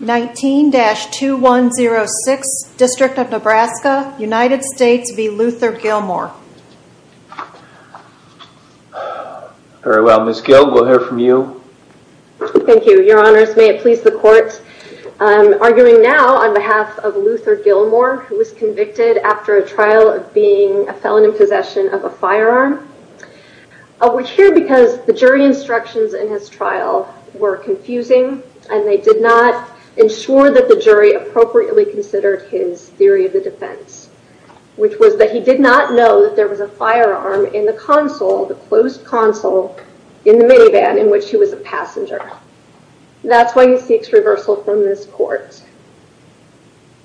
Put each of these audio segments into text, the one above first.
19-2106, District of Nebraska, United States v. Luther Gilmore Very well, Ms. Gill, we'll hear from you Thank you, your honors. May it please the court Arguing now on behalf of Luther Gilmore who was convicted after a trial of being a felon in possession of a firearm We're here because the jury instructions in his trial were confusing and they did not Ensure that the jury appropriately considered his theory of the defense Which was that he did not know that there was a firearm in the console the closed console in the minivan in which he was a passenger That's why he seeks reversal from this court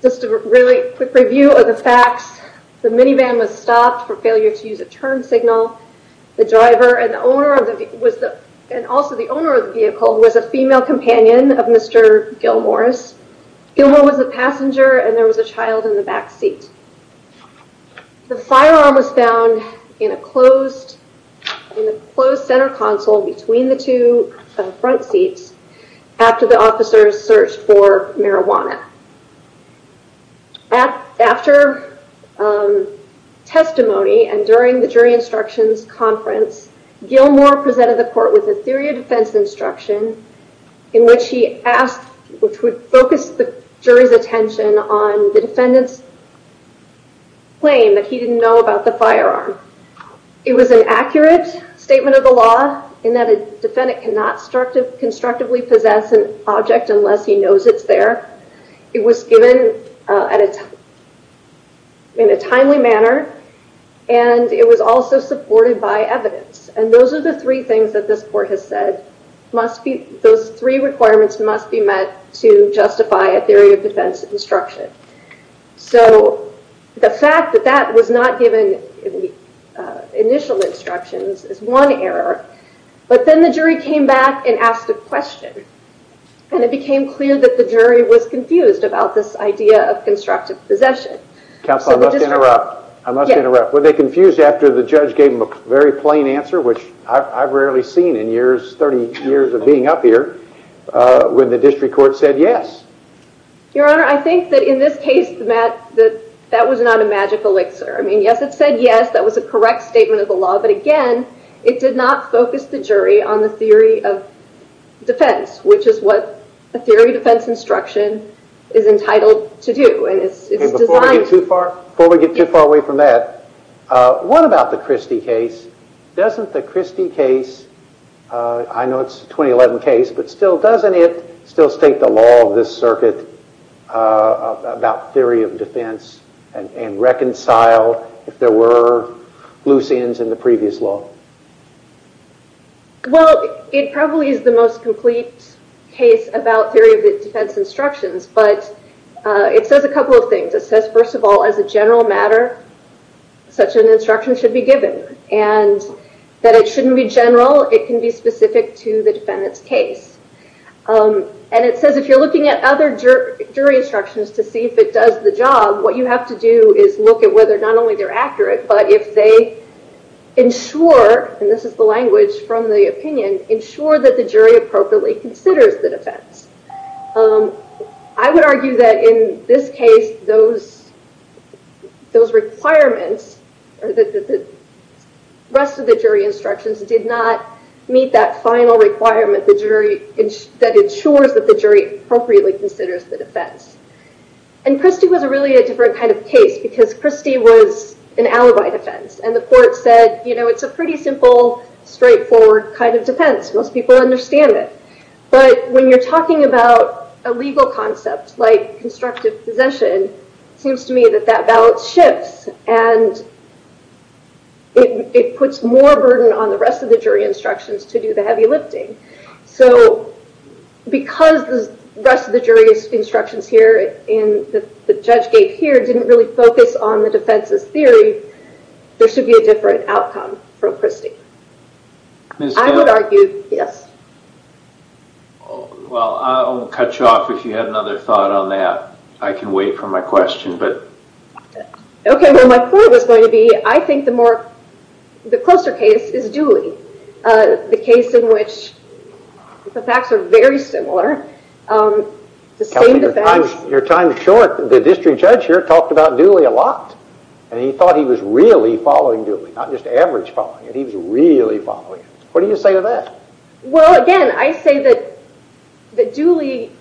Just a really quick review of the facts The minivan was stopped for failure to use a turn signal The driver and the owner of it was the and also the owner of the vehicle was a female companion of mr. Gilmore's Gilmore was a passenger and there was a child in the back seat The firearm was found in a closed In the closed center console between the two front seats After the officers searched for marijuana After Testimony and during the jury instructions conference Gilmore presented the court with a theory of defense instruction in which he asked which would focus the jury's attention on the defendants Claim that he didn't know about the firearm It was an accurate statement of the law in that a defendant cannot start to constructively possess an object unless he knows It's there. It was given at its in a timely manner and It was also supported by evidence and those are the three things that this court has said Must be those three requirements must be met to justify a theory of defense instruction so The fact that that was not given Initial instructions is one error, but then the jury came back and asked a question And it became clear that the jury was confused about this idea of constructive possession Counselor must interrupt. I must interrupt were they confused after the judge gave him a very plain answer Which I've rarely seen in years 30 years of being up here When the district court said yes Your honor. I think that in this case Matt that that was not a magic elixir I mean, yes, it said yes, that was a correct statement of the law. But again, it did not focus the jury on the theory of Defense which is what a theory defense instruction is entitled to do and it's Too far before we get too far away from that What about the Christie case? Doesn't the Christie case? I know it's 2011 case, but still doesn't it still state the law of this circuit? About theory of defense and and reconcile if there were loose ends in the previous law Well, it probably is the most complete case about theory of the defense instructions, but It says a couple of things. It says first of all as a general matter such an instruction should be given and That it shouldn't be general. It can be specific to the defendant's case And it says if you're looking at other jury instructions to see if it does the job what you have to do is look at whether not only they're accurate, but if they Ensure and this is the language from the opinion ensure that the jury appropriately considers the defense I would argue that in this case those those requirements or the Rest of the jury instructions did not meet that final requirement the jury that ensures that the jury appropriately considers the defense and Christie was an alibi defense and the court said, you know, it's a pretty simple Straightforward kind of defense most people understand it but when you're talking about a legal concept like constructive possession seems to me that that balance shifts and It puts more burden on the rest of the jury instructions to do the heavy lifting so Because the rest of the jury's instructions here in the judge gate here didn't really focus on the defense's theory There should be a different outcome from Christie This I would argue. Yes Well, I'll cut you off if you had another thought on that I can wait for my question, but Okay, well my point was going to be I think the more The closer case is Dewey the case in which The facts are very similar the same Your time is short the district judge here talked about Dooley a lot And he thought he was really following Dooley not just average following and he was really following it. What do you say to that? Well again, I say that That Dooley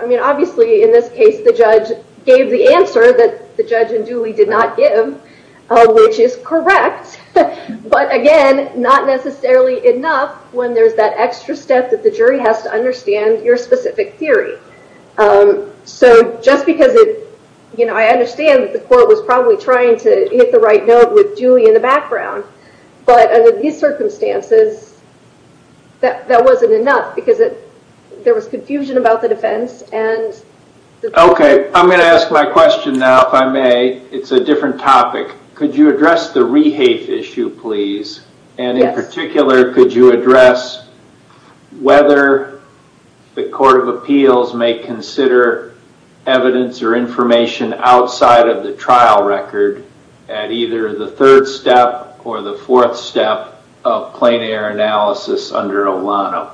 I mean obviously in this case the judge gave the answer that the judge and Dooley did not give Which is correct But again not necessarily enough when there's that extra step that the jury has to understand your specific theory So just because it you know, I understand that the court was probably trying to hit the right note with Julie in the background but under these circumstances that that wasn't enough because it there was confusion about the defense and Okay, I'm gonna ask my question now if I may it's a different topic Could you address the rehafe issue, please? And in particular, could you address? whether the Court of Appeals may consider evidence or information Outside of the trial record at either the third step or the fourth step of plane air analysis under Olano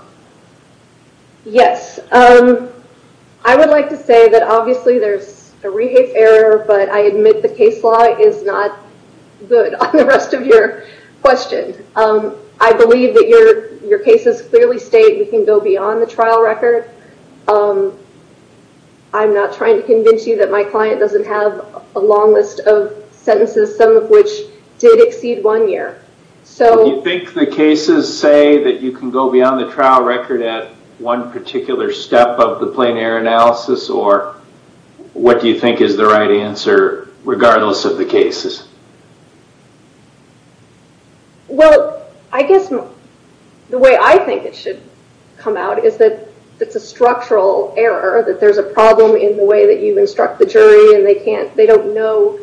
Yes, I Would like to say that obviously there's a rehafe error, but I admit the case law is not Good on the rest of your question. I believe that your your cases clearly state we can go beyond the trial record I'm not trying to convince you that my client doesn't have a long list of sentences some of which did exceed one year So you think the cases say that you can go beyond the trial record at one particular? Step of the plane air analysis or what do you think is the right answer regardless of the cases? Well, I guess The way I think it should come out is that it's a structural error that there's a problem in the way that you instruct The jury and they can't they don't know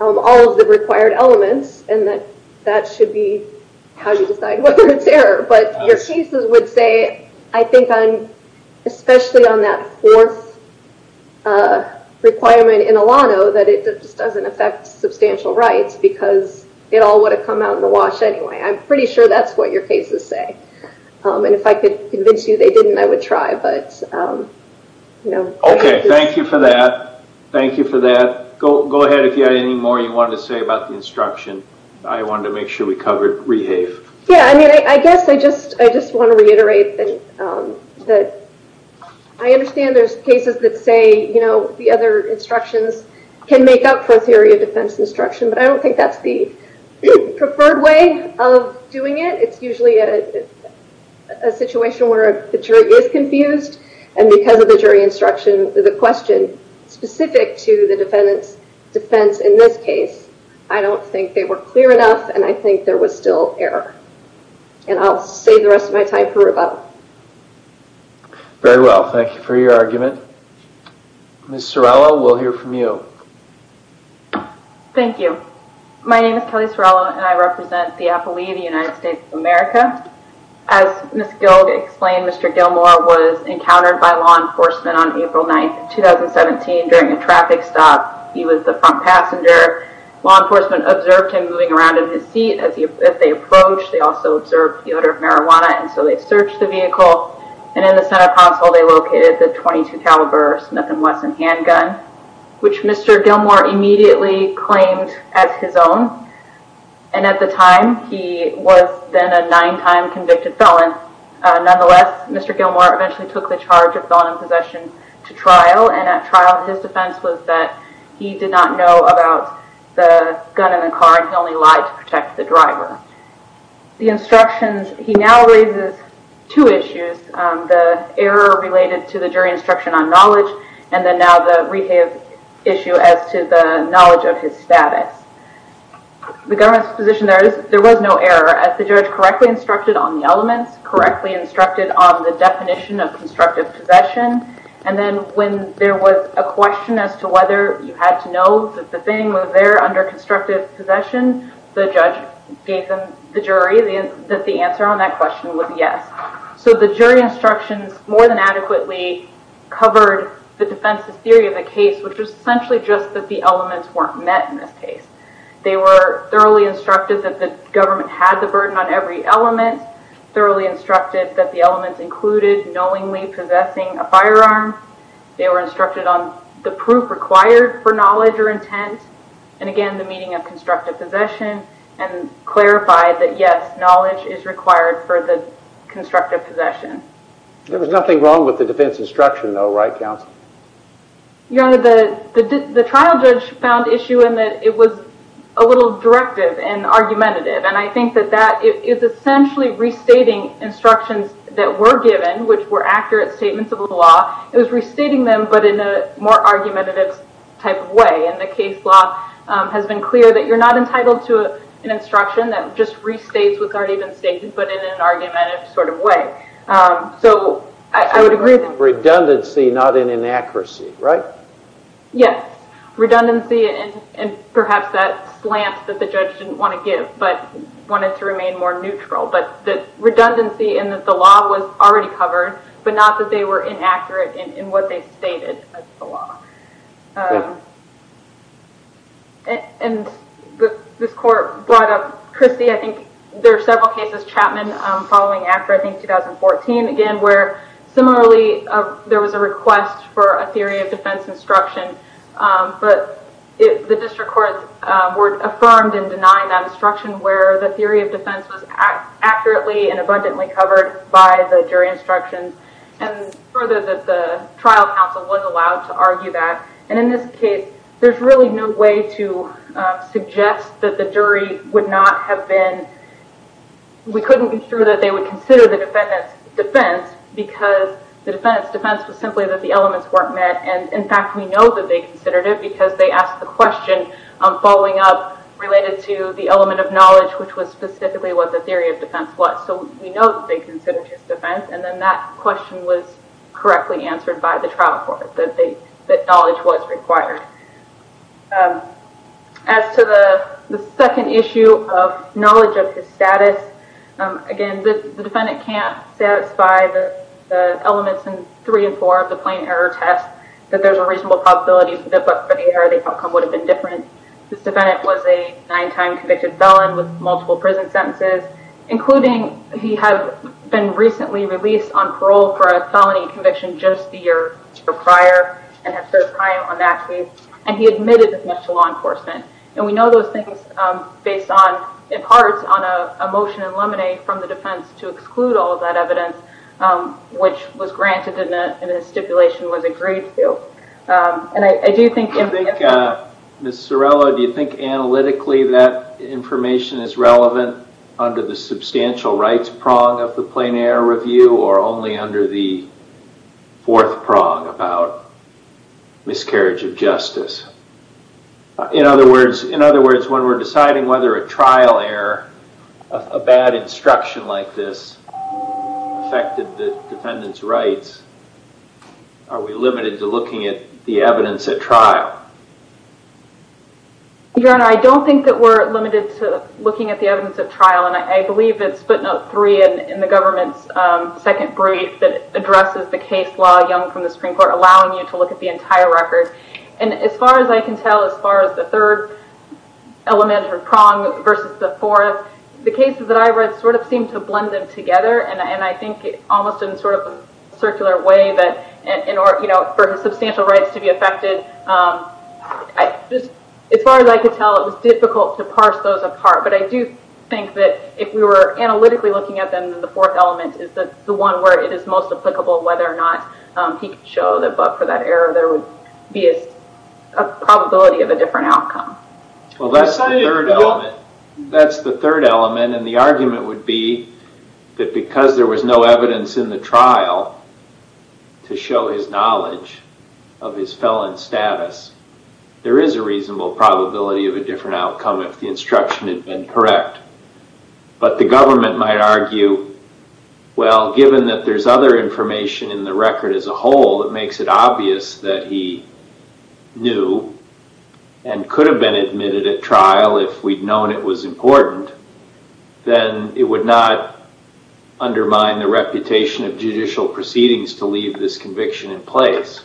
All of the required elements and that that should be how you decide whether it's error But your cases would say I think I'm especially on that fourth Requirement in Olano that it just doesn't affect substantial rights because it all would have come out in the wash Anyway, I'm pretty sure that's what your cases say and if I could convince you they didn't I would try but No, okay. Thank you for that Thank you for that. Go ahead. If you had any more you wanted to say about the instruction I wanted to make sure we covered rehave. Yeah, I mean, I guess I just I just want to reiterate that that I Understand there's cases that say, you know, the other instructions can make up for a theory of defense instruction, but I don't think that's the preferred way of doing it it's usually a Situation where the jury is confused and because of the jury instruction the question Specific to the defendants defense in this case. I don't think they were clear enough and I think there was still error And I'll say the rest of my time for about Very well, thank you for your argument Mr. Rowell, we'll hear from you Thank you, my name is Kelly Sorella and I represent the Apple II the United States of America as Miss Gilda explained. Mr. Gilmore was encountered by law enforcement on April 9th 2017 during a traffic stop He was the front passenger law enforcement observed him moving around in his seat as you if they approached They also observed the odor of marijuana and so they searched the vehicle and in the center console They located the 22 caliber Smith and Wesson handgun, which mr. Gilmore immediately claimed as his own and At the time he was then a nine-time convicted felon Nonetheless, mr Gilmore eventually took the charge of felon in possession to trial and at trial his defense was that he did not know about The gun in the car and he only lied to protect the driver The instructions he now raises two issues The error related to the jury instruction on knowledge and then now the rehab issue as to the knowledge of his status The government's position there is there was no error as the judge correctly instructed on the elements correctly instructed on the definition of Constructive possession and then when there was a question as to whether you had to know that the thing was there under constructive Possession the judge gave them the jury that the answer on that question was yes So the jury instructions more than adequately Covered the defense's theory of the case, which was essentially just that the elements weren't met in this case They were thoroughly instructed that the government had the burden on every element Thoroughly instructed that the elements included knowingly possessing a firearm they were instructed on the proof required for knowledge or intent and again the meeting of constructive possession and clarified that yes knowledge is required for the Constructive possession there was nothing wrong with the defense instruction though, right counsel Your honor the the trial judge found issue in that it was a little directive and argumentative and I think that that is Essentially restating instructions that were given which were accurate statements of the law It was restating them but in a more argumentative type of way and the case law Has been clear that you're not entitled to an instruction that just restates what's already been stated but in an argumentative sort of way So I would agree Redundancy not in inaccuracy, right? Yes Redundancy and and perhaps that slant that the judge didn't want to give but wanted to remain more neutral But the redundancy and that the law was already covered but not that they were inaccurate in what they stated And This court brought up Christy. I think there are several cases Chapman following after I think 2014 again where similarly There was a request for a theory of defense instruction but if the district court were affirmed and denied that instruction where the theory of defense was accurately and abundantly covered by the jury instructions and Further that the trial counsel was allowed to argue that and in this case. There's really no way to Suggest that the jury would not have been We couldn't be sure that they would consider the defendant's defense Because the defendant's defense was simply that the elements weren't met And in fact, we know that they considered it because they asked the question I'm following up related to the element of knowledge, which was specifically what the theory of defense was So we know that they considered his defense and then that question was Correctly answered by the trial court that they that knowledge was required As To the the second issue of knowledge of his status again, the defendant can't satisfy the Elements in three and four of the plain error test that there's a reasonable possibility that but for the error They outcome would have been different. This defendant was a nine-time convicted felon with multiple prison sentences Including he had been recently released on parole for a felony conviction just the year prior And have served time on that case and he admitted as much to law enforcement And we know those things based on in parts on a motion in limine from the defense to exclude all of that evidence Which was granted in a stipulation was agreed to And I do think Miss Sorrello, do you think analytically that information is relevant under the substantial rights prong of the plain error review? or only under the Fourth prong about miscarriage of justice In other words, in other words when we're deciding whether a trial error a bad instruction like this Affected the defendant's rights Are we limited to looking at the evidence at trial? Your honor I don't think that we're limited to looking at the evidence at trial and I believe it's footnote three in the government's Addresses the case law young from the Supreme Court allowing you to look at the entire record and as far as I can tell as far as the third Element or prong versus the fourth the cases that I've read sort of seem to blend them together And I think it almost in sort of a circular way that in order, you know for his substantial rights to be affected I just as far as I could tell it was difficult to parse those apart But I do think that if we were analytically looking at them The fourth element is that the one where it is most applicable whether or not he could show that but for that error there would be a Probability of a different outcome. Well, that's That's the third element and the argument would be That because there was no evidence in the trial to show his knowledge of his felon status There is a reasonable probability of a different outcome if the instruction had been correct But the government might argue Well given that there's other information in the record as a whole that makes it obvious that he knew and Could have been admitted at trial if we'd known it was important Then it would not Undermine the reputation of judicial proceedings to leave this conviction in place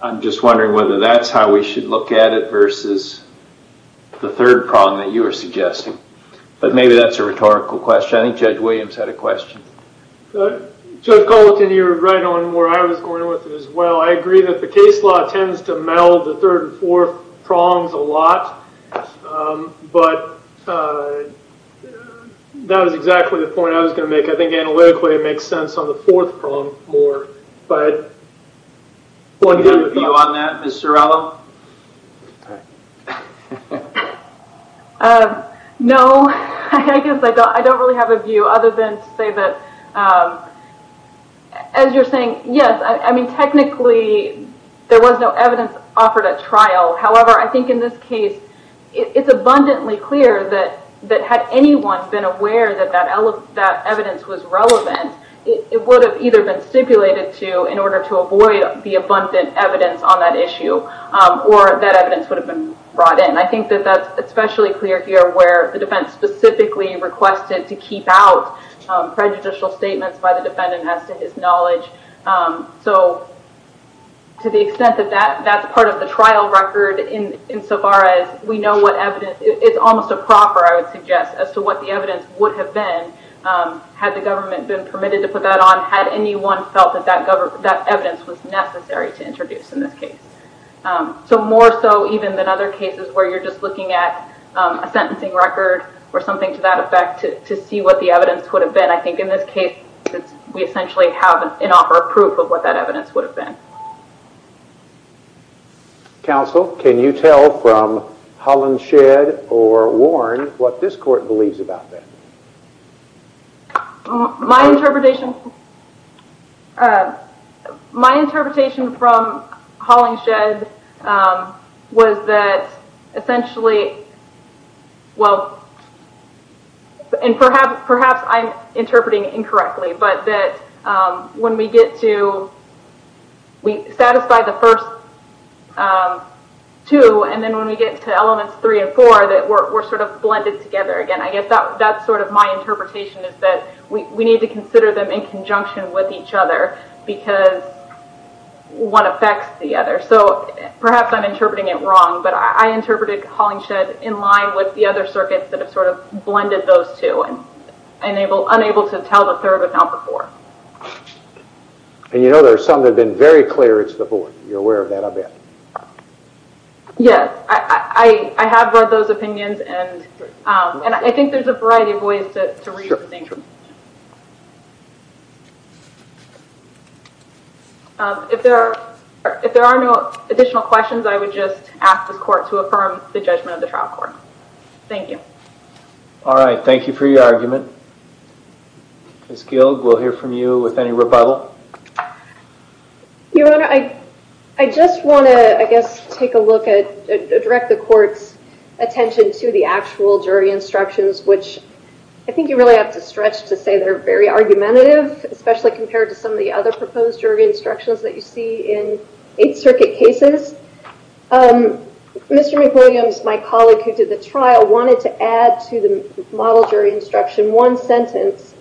I'm just wondering whether that's how we should look at it versus The third prong that you were suggesting, but maybe that's a rhetorical question. I think Judge Williams had a question Judge Colton you're right on where I was going with it as well I agree that the case law tends to meld the third and fourth prongs a lot but That was exactly the point I was going to make I think analytically it makes sense on the fourth prong more but One good view on that. Mr. Ella No, I guess I thought I don't really have a view other than to say that As you're saying yes, I mean technically There was no evidence offered at trial. However, I think in this case It's abundantly clear that that had anyone been aware that that element that evidence was relevant It would have either been stipulated to in order to avoid the abundant evidence on that issue Or that evidence would have been brought in. I think that that's especially clear here where the defense specifically requested to keep out prejudicial statements by the defendant has to his knowledge so To the extent that that that's part of the trial record in insofar as we know what evidence it's almost a proper I would suggest as to what the evidence would have been Had the government been permitted to put that on had anyone felt that that government that evidence was necessary to introduce in this case So more so even than other cases where you're just looking at A sentencing record or something to that effect to see what the evidence would have been I think in this case, it's we essentially have an offer of proof of what that evidence would have been Counsel can you tell from Holland shed or Warren what this court believes about that? My interpretation My interpretation from Holland shed was that essentially well And perhaps perhaps I'm interpreting incorrectly but that when we get to We satisfy the first Two and then when we get to elements three and four that were sort of blended together again I guess that that's sort of my interpretation is that we need to consider them in conjunction with each other because One affects the other so perhaps I'm interpreting it wrong but I interpreted calling shed in line with the other circuits that have sort of blended those two and Enable unable to tell the third account before And you know, there are some that have been very clear it's the boy you're aware of that I bet Yes, I I have read those opinions and and I think there's a variety of ways to If there are if there are no additional questions, I would just ask this court to affirm the judgment of the trial court Thank you All right. Thank you for your argument It's killed. We'll hear from you with any rebuttal You know, I I just want to I guess take a look at direct the court's Attention to the actual jury instructions, which I think you really have to stretch to say they're very argumentative Especially compared to some of the other proposed jury instructions that you see in Eighth Circuit cases Mr. McWilliams my colleague who did the trial wanted to add to the model jury instruction one sentence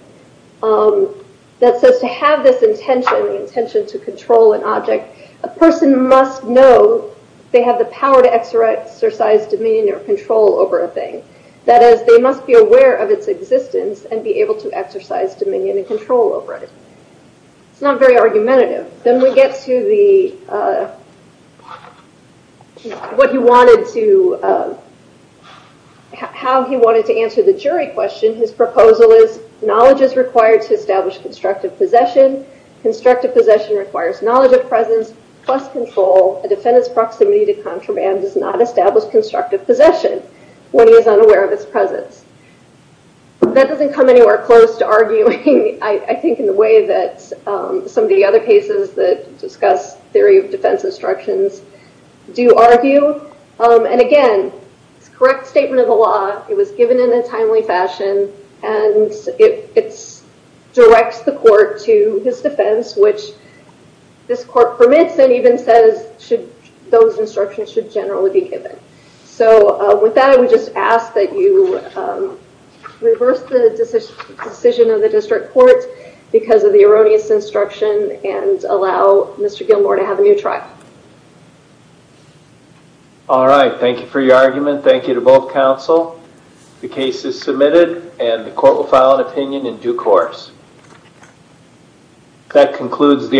That says to have this intention the intention to control an object a person must know They have the power to exercise Dominion or control over a thing that is they must be aware of its existence and be able to exercise dominion and control over it It's not very argumentative then we get to the What you wanted to How he wanted to answer the jury question his proposal is knowledge is required to establish constructive possession Constructive possession requires knowledge of presence plus control a defendant's proximity to contraband does not establish constructive possession When he is unaware of his presence That doesn't come anywhere close to arguing. I think in the way that Some of the other cases that discuss theory of defense instructions Do argue and again, it's correct statement of the law. It was given in a timely fashion and it directs the court to his defense which This court permits and even says should those instructions should generally be given. So with that I would just ask that you Reverse the decision of the district court because of the erroneous instruction and allow mr. Gilmore to have a new trial All right, thank you for your argument, thank you to both counsel The case is submitted and the court will file an opinion in due course That concludes the